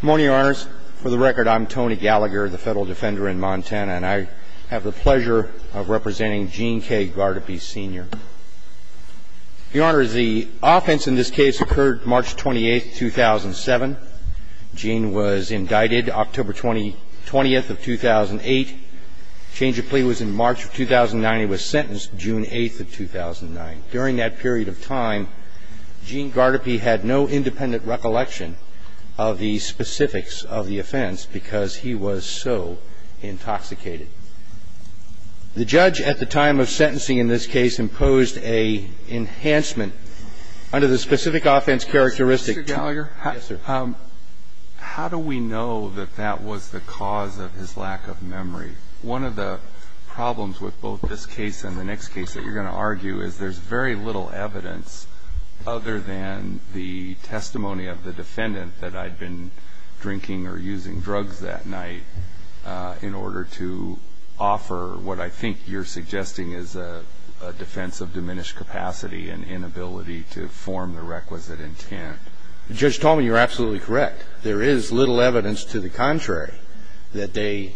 Good morning, Your Honors. For the record, I'm Tony Gallagher, the Federal Defender in Montana, and I have the pleasure of representing Gene K. Guardipee, Sr. Your Honors, the offense in this case occurred March 28, 2007. Gene was indicted October 20, 2008. Change of plea was in March of 2009. He was sentenced June 8, 2009. During that period of time, there was no independent recollection of the specifics of the offense because he was so intoxicated. The judge at the time of sentencing in this case imposed an enhancement under the specific offense characteristic. Mr. Gallagher, how do we know that that was the cause of his lack of memory? One of the problems with both this case and the next case that you're going to argue is there's very little evidence other than the testimony of the defendant that I'd been drinking or using drugs that night in order to offer what I think you're suggesting is a defense of diminished capacity and inability to form the requisite intent. Judge Tallman, you're absolutely correct. There is little evidence to the contrary that they,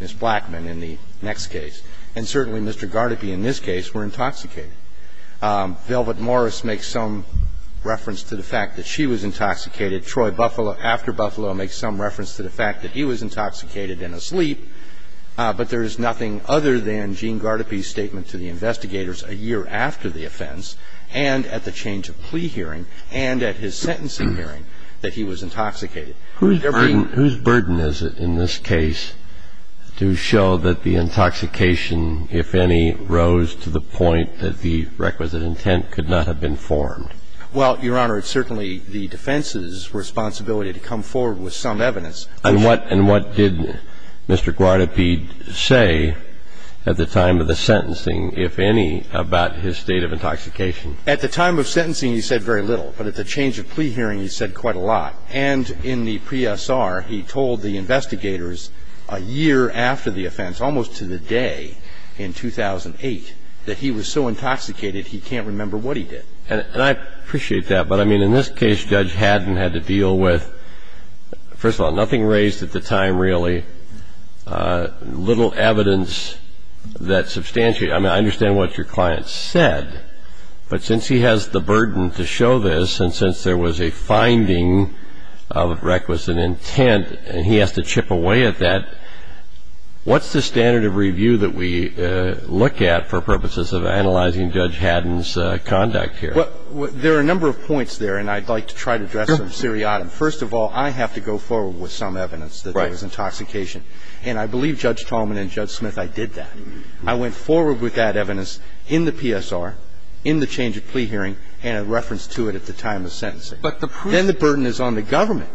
Ms. Blackman, in the next case, and certainly Mr. Guardipee in this case, were intoxicated. Velvet Morris makes some reference to the fact that she was intoxicated. Troy Buffalo, after Buffalo, makes some reference to the fact that he was intoxicated and asleep. But there is nothing other than Gene Guardipee's statement to the investigators a year after the offense and at the change of plea hearing and at his sentencing hearing that he was intoxicated. Who's burden is it in this case to show that the intoxication, if any, rose to the point that the requisite intent could not have been formed? Well, Your Honor, it's certainly the defense's responsibility to come forward with some evidence. And what did Mr. Guardipee say at the time of the sentencing, if any, about his state of intoxication? At the time of sentencing, he said very little. But at the change of plea hearing, he said quite a lot. And in the PSR, he told the investigators a year after the offense, almost to the day in 2008, that he was so intoxicated he can't remember what he did. And I appreciate that. But, I mean, in this case, Judge Haddon had to deal with, first of all, nothing raised at the time, really, little evidence that substantiated. I mean, I understand what your client said. But since he has the burden to show this and since there was a finding of requisite intent and he has to chip away at that, what's the standard of review that we look at for purposes of analyzing Judge Haddon's conduct here? Well, there are a number of points there, and I'd like to try to address them seriatim. First of all, I have to go forward with some evidence that there was intoxication. And I believe Judge Tallman and Judge Smith, I did that. I went forward with that evidence in the PSR, in the change of plea hearing, and a reference to it at the time of sentencing. Then the burden is on the government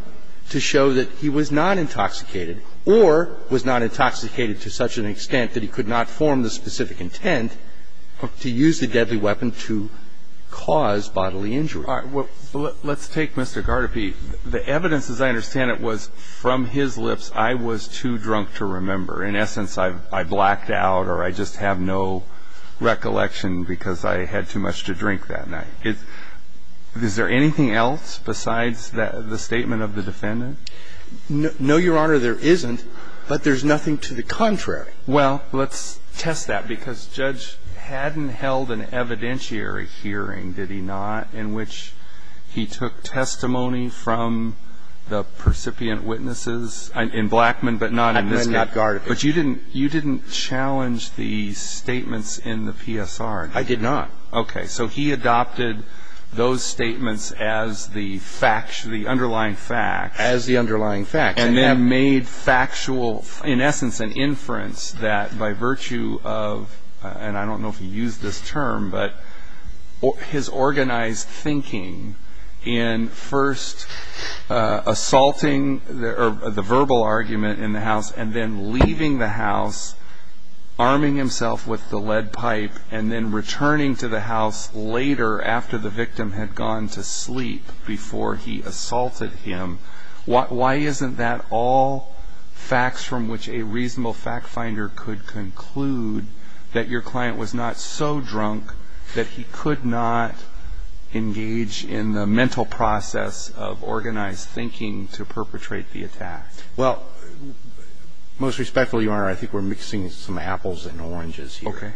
to show that he was not intoxicated or was not intoxicated to such an extent that he could not form the specific intent to use the deadly weapon to cause bodily injury. All right. Well, let's take Mr. Gardype. The evidence, as I understand it, was from his lips, I was too drunk to remember. In essence, I blacked out or I just have no recollection because I had too much to drink that night. Is there anything else besides the statement of the defendant? No, Your Honor, there isn't, but there's nothing to the contrary. Well, let's test that, because Judge Haddon held an evidentiary hearing, did he not, in which he took testimony from the percipient witnesses in Blackman but not in this case? I did not, Your Honor. But you didn't challenge the statements in the PSR? I did not. Okay. So he adopted those statements as the underlying facts. As the underlying facts. And then made factual, in essence, an inference that by virtue of, and I don't know if he used this term, but his organized thinking in first assaulting the verbal argument in the house and then leaving the house, arming himself with the lead pipe, and then returning to the house later after the victim had gone to sleep before he assaulted him. Why isn't that all facts from which a reasonable fact finder could conclude that your client was not so drunk that he could not engage in the mental process of organized thinking to perpetrate the attack? Well, most respectfully, Your Honor, I think we're mixing some apples and oranges here. Okay.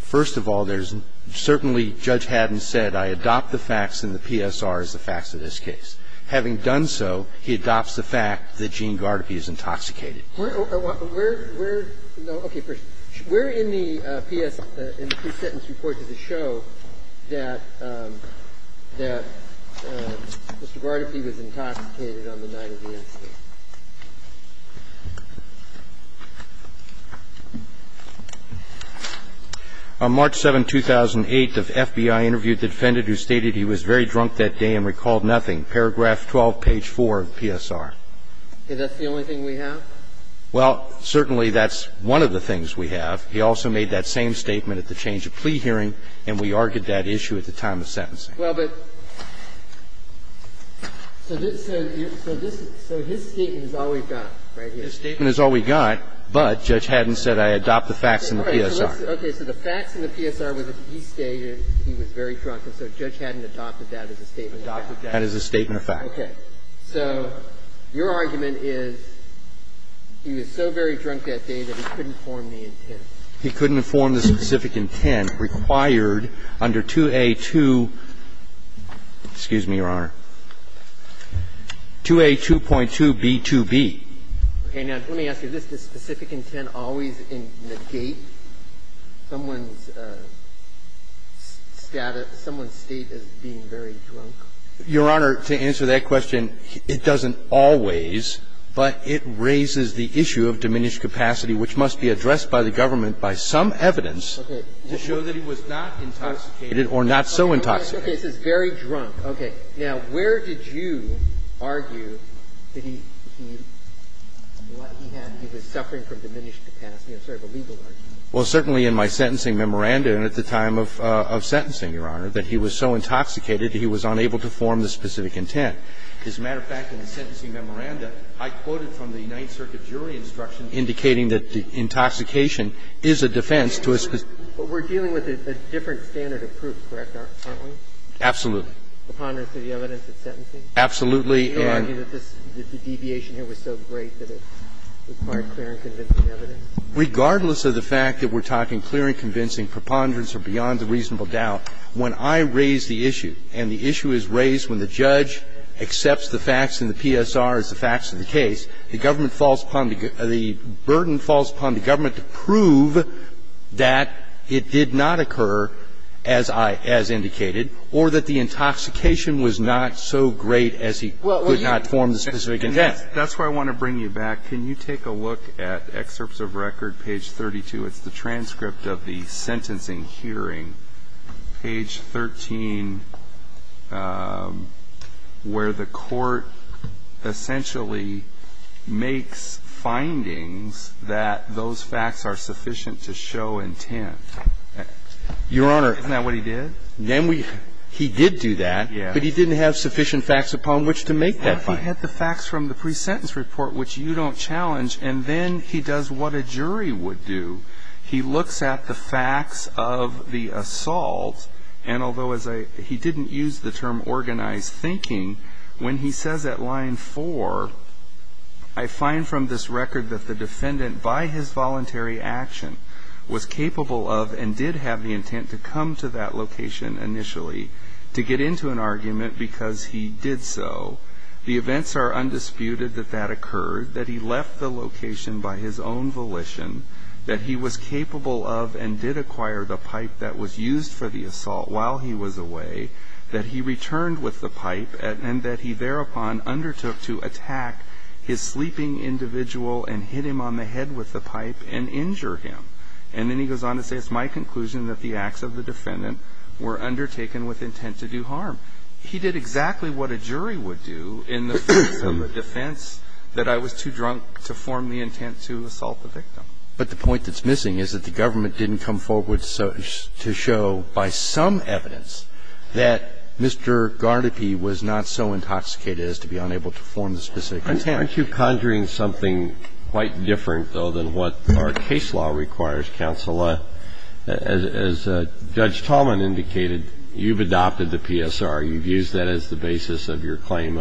First of all, there's certainly, Judge Haddon said, I adopt the facts in the PSR as the facts of this case. Having done so, he adopts the fact that Gene Gardepi is intoxicated. Where in the PSR, in the pre-sentence report, does it show that Mr. Gardepi was intoxicated on the night of the incident? On March 7, 2008, the FBI interviewed the defendant who stated he was very drunk that day and recalled nothing. Paragraph 12, page 4 of the PSR. Okay. That's the only thing we have? Well, certainly, that's one of the things we have. He also made that same statement at the change of plea hearing, and we argued that issue at the time of sentencing. Well, but so this is so his statement is all we've got right here. His statement is all we've got, but Judge Haddon said, I adopt the facts in the PSR. Okay. So the facts in the PSR were that he stayed and he was very drunk, and so Judge Haddon adopted that as a statement. That is a statement of fact. Okay. So your argument is he was so very drunk that day that he couldn't form the intent. He couldn't form the specific intent required under 2A2. Excuse me, Your Honor. 2A2.2b2b. Okay. Now, let me ask you, is this the specific intent always in the gate? Someone's status, someone's state as being very drunk? Your Honor, to answer that question, it doesn't always, but it raises the issue of diminished capacity, which must be addressed by the government by some evidence to show that he was not intoxicated or not so intoxicated. Okay. It says very drunk. Okay. Now, where did you argue that he, what he had, he was suffering from diminished capacity as sort of a legal argument? Well, certainly in my sentencing memorandum at the time of sentencing, Your Honor, that he was so intoxicated he was unable to form the specific intent. As a matter of fact, in the sentencing memorandum, I quoted from the Ninth Circuit jury instruction indicating that intoxication is a defense to a specific intent. But we're dealing with a different standard of proof, correct, aren't we? Absolutely. Upon reference to the evidence at sentencing? Absolutely. Do you argue that this, that the deviation here was so great that it required clear and convincing evidence? Regardless of the fact that we're talking clear and convincing preponderance or beyond the reasonable doubt, when I raise the issue and the issue is raised when the judge accepts the facts in the PSR as the facts of the case, the government falls upon, the burden falls upon the government to prove that it did not occur, as I, as indicated, or that the intoxication was not so great as he claimed. And that's why I want to bring you back. Can you take a look at excerpts of record, page 32? It's the transcript of the sentencing hearing, page 13, where the court essentially makes findings that those facts are sufficient to show intent. Your Honor. Isn't that what he did? Then we – he did do that. Yes. But he didn't have sufficient facts upon which to make that finding. He had the facts from the pre-sentence report, which you don't challenge, and then he does what a jury would do. He looks at the facts of the assault, and although as I – he didn't use the term organized thinking, when he says at line four, I find from this record that the defendant by his voluntary action was capable of and did have the intent to come to that location initially to get into an argument because he did so, the events are undisputed that that occurred, that he left the location by his own volition, that he was capable of and did acquire the pipe that was used for the assault while he was away, that he returned with the pipe, and that he thereupon undertook to attack his sleeping individual and hit him on the head with the pipe and injure him. And then he goes on to say, it's my conclusion that the acts of the defendant were undertaken with intent to do harm. He did exactly what a jury would do in the face of a defense that I was too drunk to form the intent to assault the victim. But the point that's missing is that the government didn't come forward to show by some evidence that Mr. Garnippy was not so intoxicated as to be unable to form the specific intent. Why aren't you conjuring something quite different, though, than what our case law requires, counsel? As Judge Tallman indicated, you've adopted the PSR. You've used that as the basis of your claim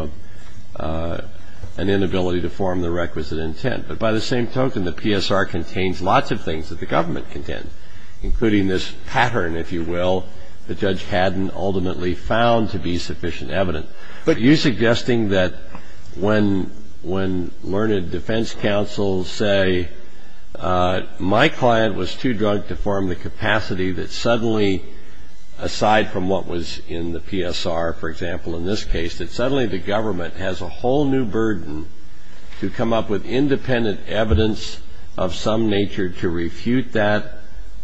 of an inability to form the requisite intent. But by the same token, the PSR contains lots of things that the government contained, including this pattern, if you will, that Judge Haddon ultimately found to be sufficient evidence. But you're suggesting that when learned defense counsels say, my client was too drunk to form the capacity, that suddenly, aside from what was in the PSR, for example, in this case, that suddenly the government has a whole new burden to come up with independent evidence of some nature to refute that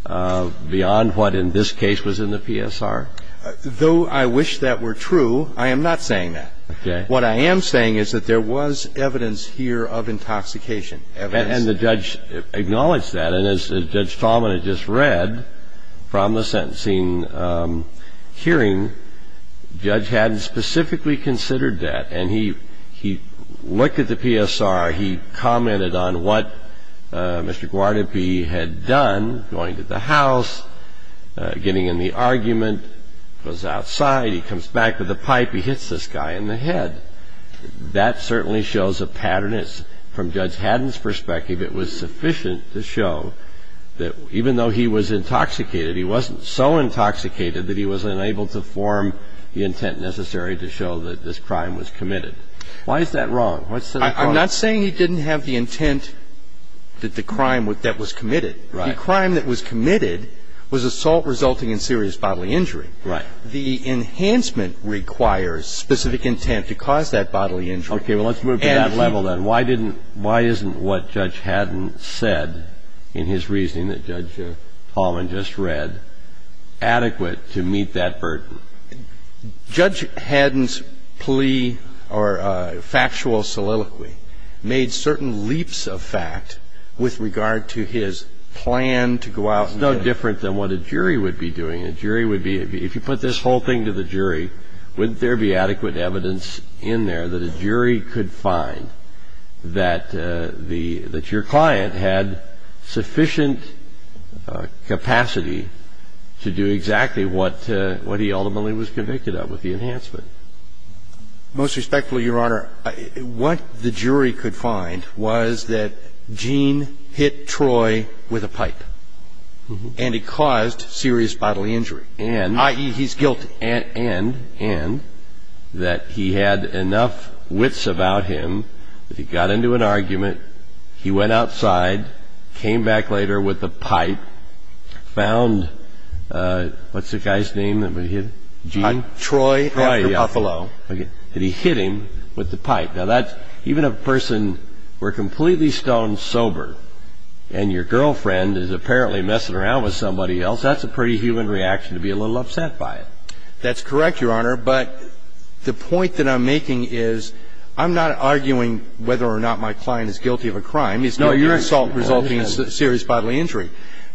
beyond what in this case was in the PSR? Though I wish that were true, I am not saying that. Okay. What I am saying is that there was evidence here of intoxication, evidence. And the judge acknowledged that. And as Judge Tallman had just read from the sentencing hearing, Judge Haddon specifically considered that. And he looked at the PSR. He commented on what Mr. Garnippy had done, going to the house, getting in the argument, goes outside, he comes back with a pipe, he hits this guy in the head. That certainly shows a pattern. From Judge Haddon's perspective, it was sufficient to show that even though he was intoxicated, he wasn't so intoxicated that he was unable to form the intent necessary to show that this crime was committed. Why is that wrong? I'm not saying he didn't have the intent that the crime that was committed. Right. The crime that was committed was assault resulting in serious bodily injury. Right. The enhancement requires specific intent to cause that bodily injury. Okay. Well, let's move to that level then. Why isn't what Judge Haddon said in his reasoning that Judge Tallman just read adequate to meet that burden? Judge Haddon's plea or factual soliloquy made certain leaps of fact with regard to his plan to go out and do it. It's no different than what a jury would be doing. A jury would be, if you put this whole thing to the jury, wouldn't there be adequate evidence in there that a jury could find that your client had sufficient capacity to do exactly what he ultimately was convicted of with the enhancement? Most respectfully, Your Honor, what the jury could find was that Gene hit Troy with a pipe and he caused serious bodily injury, i.e., he's guilty. And that he had enough wits about him that he got into an argument, he went outside, came back later with the pipe, found, what's the guy's name? Gene? Troy. Troy, yeah. After Buffalo. And he hit him with the pipe. Now, even if a person were completely stone sober and your girlfriend is apparently messing around with somebody else, that's a pretty human reaction to be a little upset by it. That's correct, Your Honor. But the point that I'm making is I'm not arguing whether or not my client is guilty of a crime. He's guilty of assault resulting in serious bodily injury.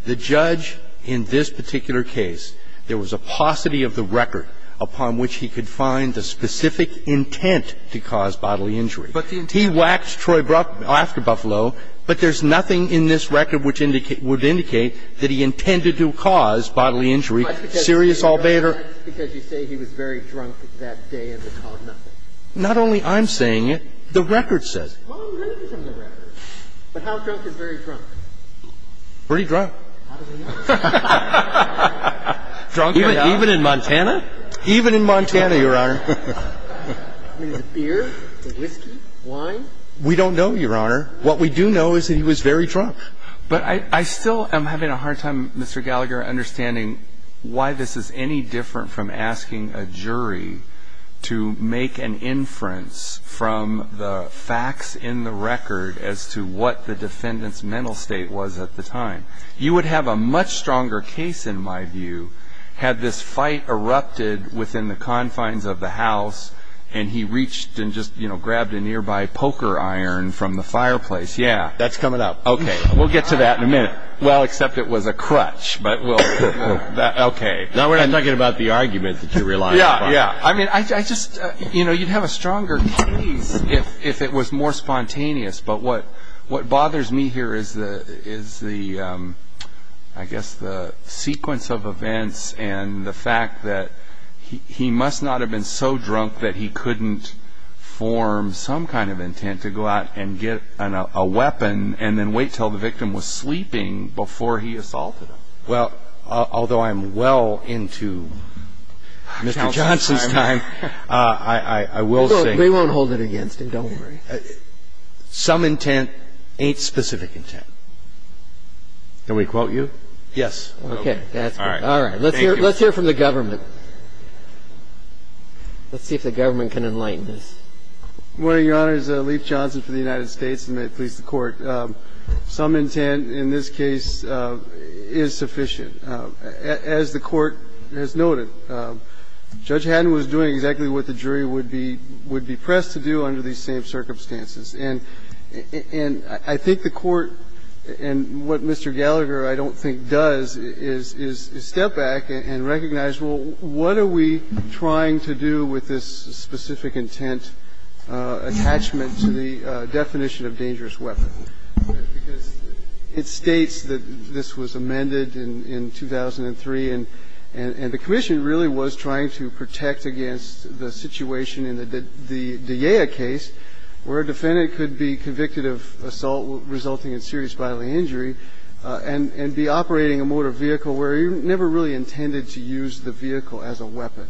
The judge in this particular case, there was a paucity of the record upon which he could find the specific intent to cause bodily injury. He whacked Troy after Buffalo, but there's nothing in this record which would indicate that he intended to cause bodily injury. That's because you say he was very drunk that day and he caused nothing. Not only I'm saying it, the record says it. Well, I'm reading from the record. But how drunk is very drunk? Pretty drunk. How does he know? Drunk as hell. Even in Montana? Even in Montana, Your Honor. I mean, the beer, the whiskey, wine? We don't know, Your Honor. What we do know is that he was very drunk. But I still am having a hard time, Mr. Gallagher, understanding why this is any different from asking a jury to make an inference from the facts in the record as to what the defendant's mental state was at the time. You would have a much stronger case, in my view, had this fight erupted within the confines of the house, and he reached and just grabbed a nearby poker iron from the fireplace. Yeah. That's coming up. Okay. We'll get to that in a minute. Well, except it was a crutch. Okay. Now we're not talking about the argument that you're relying upon. Yeah, yeah. I mean, you'd have a stronger case if it was more spontaneous. But what bothers me here is the, I guess, the sequence of events and the fact that he must not have been so drunk that he couldn't form some kind of intent to go out and get a weapon and then wait until the victim was sleeping before he assaulted him. Well, although I'm well into Mr. Johnson's time, I will say. They won't hold it against him, don't worry. Some intent ain't specific intent. Can we quote you? Yes. Okay. All right. Let's hear from the government. Let's see if the government can enlighten us. Good morning, Your Honor. This is Leif Johnson for the United States, and may it please the Court. Some intent in this case is sufficient. As the Court has noted, Judge Haddon was doing exactly what the jury would be pressed to do under these same circumstances. And I think the Court, and what Mr. Gallagher I don't think does, is step back and recognize, well, what are we trying to do with this specific intent attachment to the definition of dangerous weapon? Because it states that this was amended in 2003, and the commission really was trying to protect against the situation in the D'Ea case where a defendant could be convicted of assault resulting in serious bodily injury and be operating a motor vehicle where he never really intended to use the vehicle as a weapon.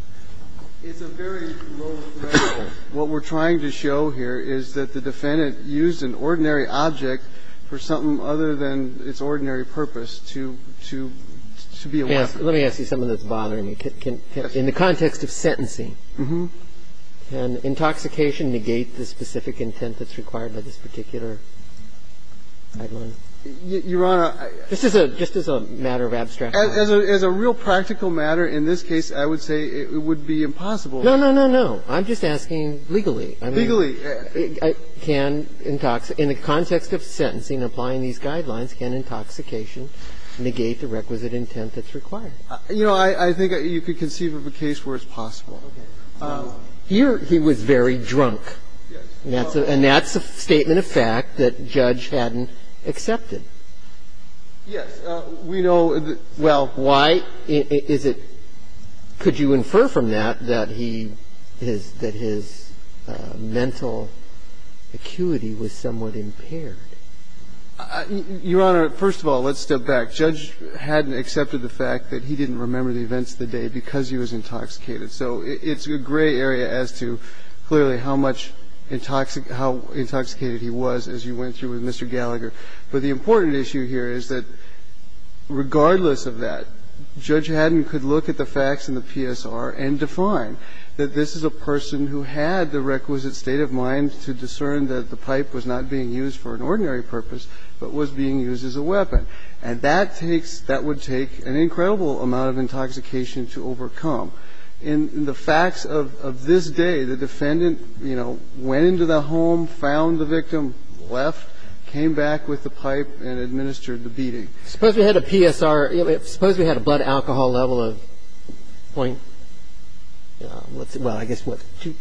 It's a very low level. What we're trying to show here is that the defendant used an ordinary object for something other than its ordinary purpose to be a weapon. Now, let me ask you something that's bothering me. In the context of sentencing, can intoxication negate the specific intent that's required by this particular guideline? Your Honor, I don't know. Just as a matter of abstraction. As a real practical matter in this case, I would say it would be impossible. No, no, no, no. I'm just asking legally. Legally. In the context of sentencing, applying these guidelines, can intoxication negate the requisite intent that's required? You know, I think you could conceive of a case where it's possible. Okay. Here, he was very drunk. Yes. And that's a statement of fact that judge hadn't accepted. Yes. We know that. Well, why is it – could you infer from that that he – that his mental acuity was somewhat impaired? Your Honor, first of all, let's step back. Judge hadn't accepted the fact that he didn't remember the events of the day because he was intoxicated. So it's a gray area as to clearly how much intoxicated he was as you went through with Mr. Gallagher. But the important issue here is that regardless of that, Judge Haddon could look at the facts in the PSR and define that this is a person who had the requisite intent to commit the crime. remember the events of the day, that's a state of mind to discern that the pipe was not being used for an ordinary purpose but was being used as a weapon. And that takes – that would take an incredible amount of intoxication to overcome. In the facts of this day, the defendant, you know, went into the home, found the victim, left, came back with the pipe and administered the beating. Suppose we had a PSR – suppose we had a blood alcohol level of point – well, I guess what,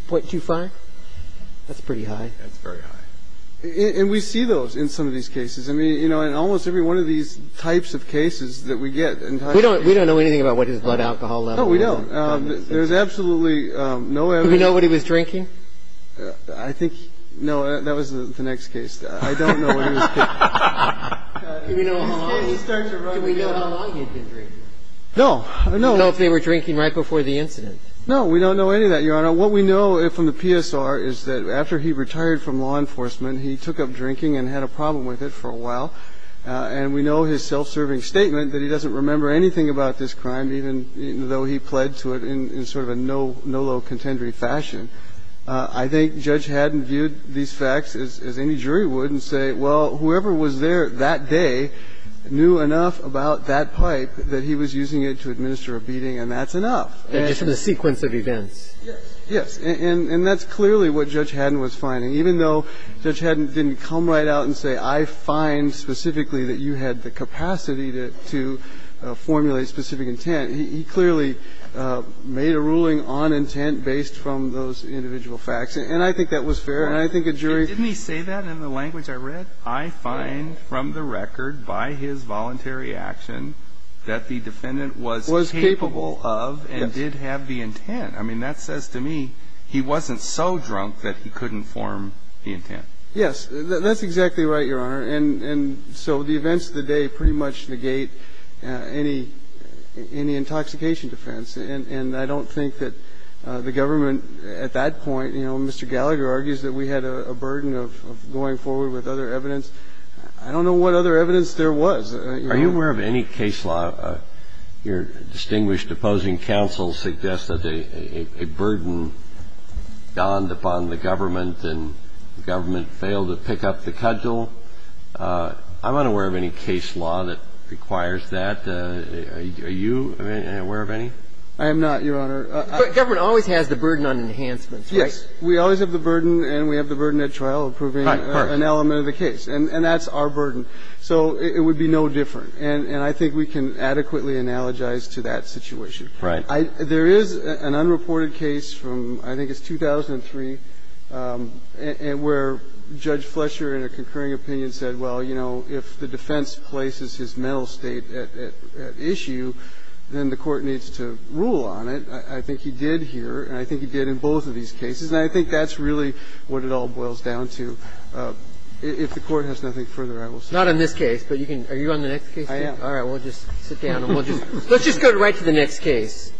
.25? That's pretty high. That's very high. And we see those in some of these cases. I mean, you know, in almost every one of these types of cases that we get – We don't know anything about what his blood alcohol level was. No, we don't. There's absolutely no evidence. Did we know what he was drinking? I think – no, that was the next case. I don't know what he was drinking. Do we know how long he had been drinking? No. We don't know if they were drinking right before the incident. No, we don't know any of that, Your Honor. What we know from the PSR is that after he retired from law enforcement, he took up drinking and had a problem with it for a while. And we know his self-serving statement that he doesn't remember anything about this crime, even though he pled to it in sort of a no-low contendory fashion. I think Judge Haddon viewed these facts as any jury would and say, well, whoever was there that day knew enough about that pipe that he was using it to administer a beating, and that's enough. And just the sequence of events. Yes. And that's clearly what Judge Haddon was finding. Even though Judge Haddon didn't come right out and say, I find specifically on intent based from those individual facts. And I think that was fair. And I think a jury ---- Didn't he say that in the language I read? I find from the record by his voluntary action that the defendant was capable of and did have the intent. I mean, that says to me he wasn't so drunk that he couldn't form the intent. Yes. That's exactly right, Your Honor. And so the events of the day pretty much negate any intoxication defense. And I don't think that the government at that point, you know, Mr. Gallagher argues that we had a burden of going forward with other evidence. I don't know what other evidence there was. Are you aware of any case law? Your distinguished opposing counsel suggests that a burden dawned upon the government and the government failed to pick up the cudgel. I'm unaware of any case law that requires that. And are you aware of any? I am not, Your Honor. But government always has the burden on enhancements, right? Yes. We always have the burden and we have the burden at trial of proving an element of the case. And that's our burden. So it would be no different. And I think we can adequately analogize to that situation. Right. There is an unreported case from I think it's 2003 where Judge Flesher in a concurring opinion said, well, you know, if the defense places his mental state at issue, then the Court needs to rule on it. I think he did here and I think he did in both of these cases. And I think that's really what it all boils down to. If the Court has nothing further, I will stop. Not in this case, but you can – are you on the next case? I am. All right. We'll just sit down and we'll just – let's just go right to the next case.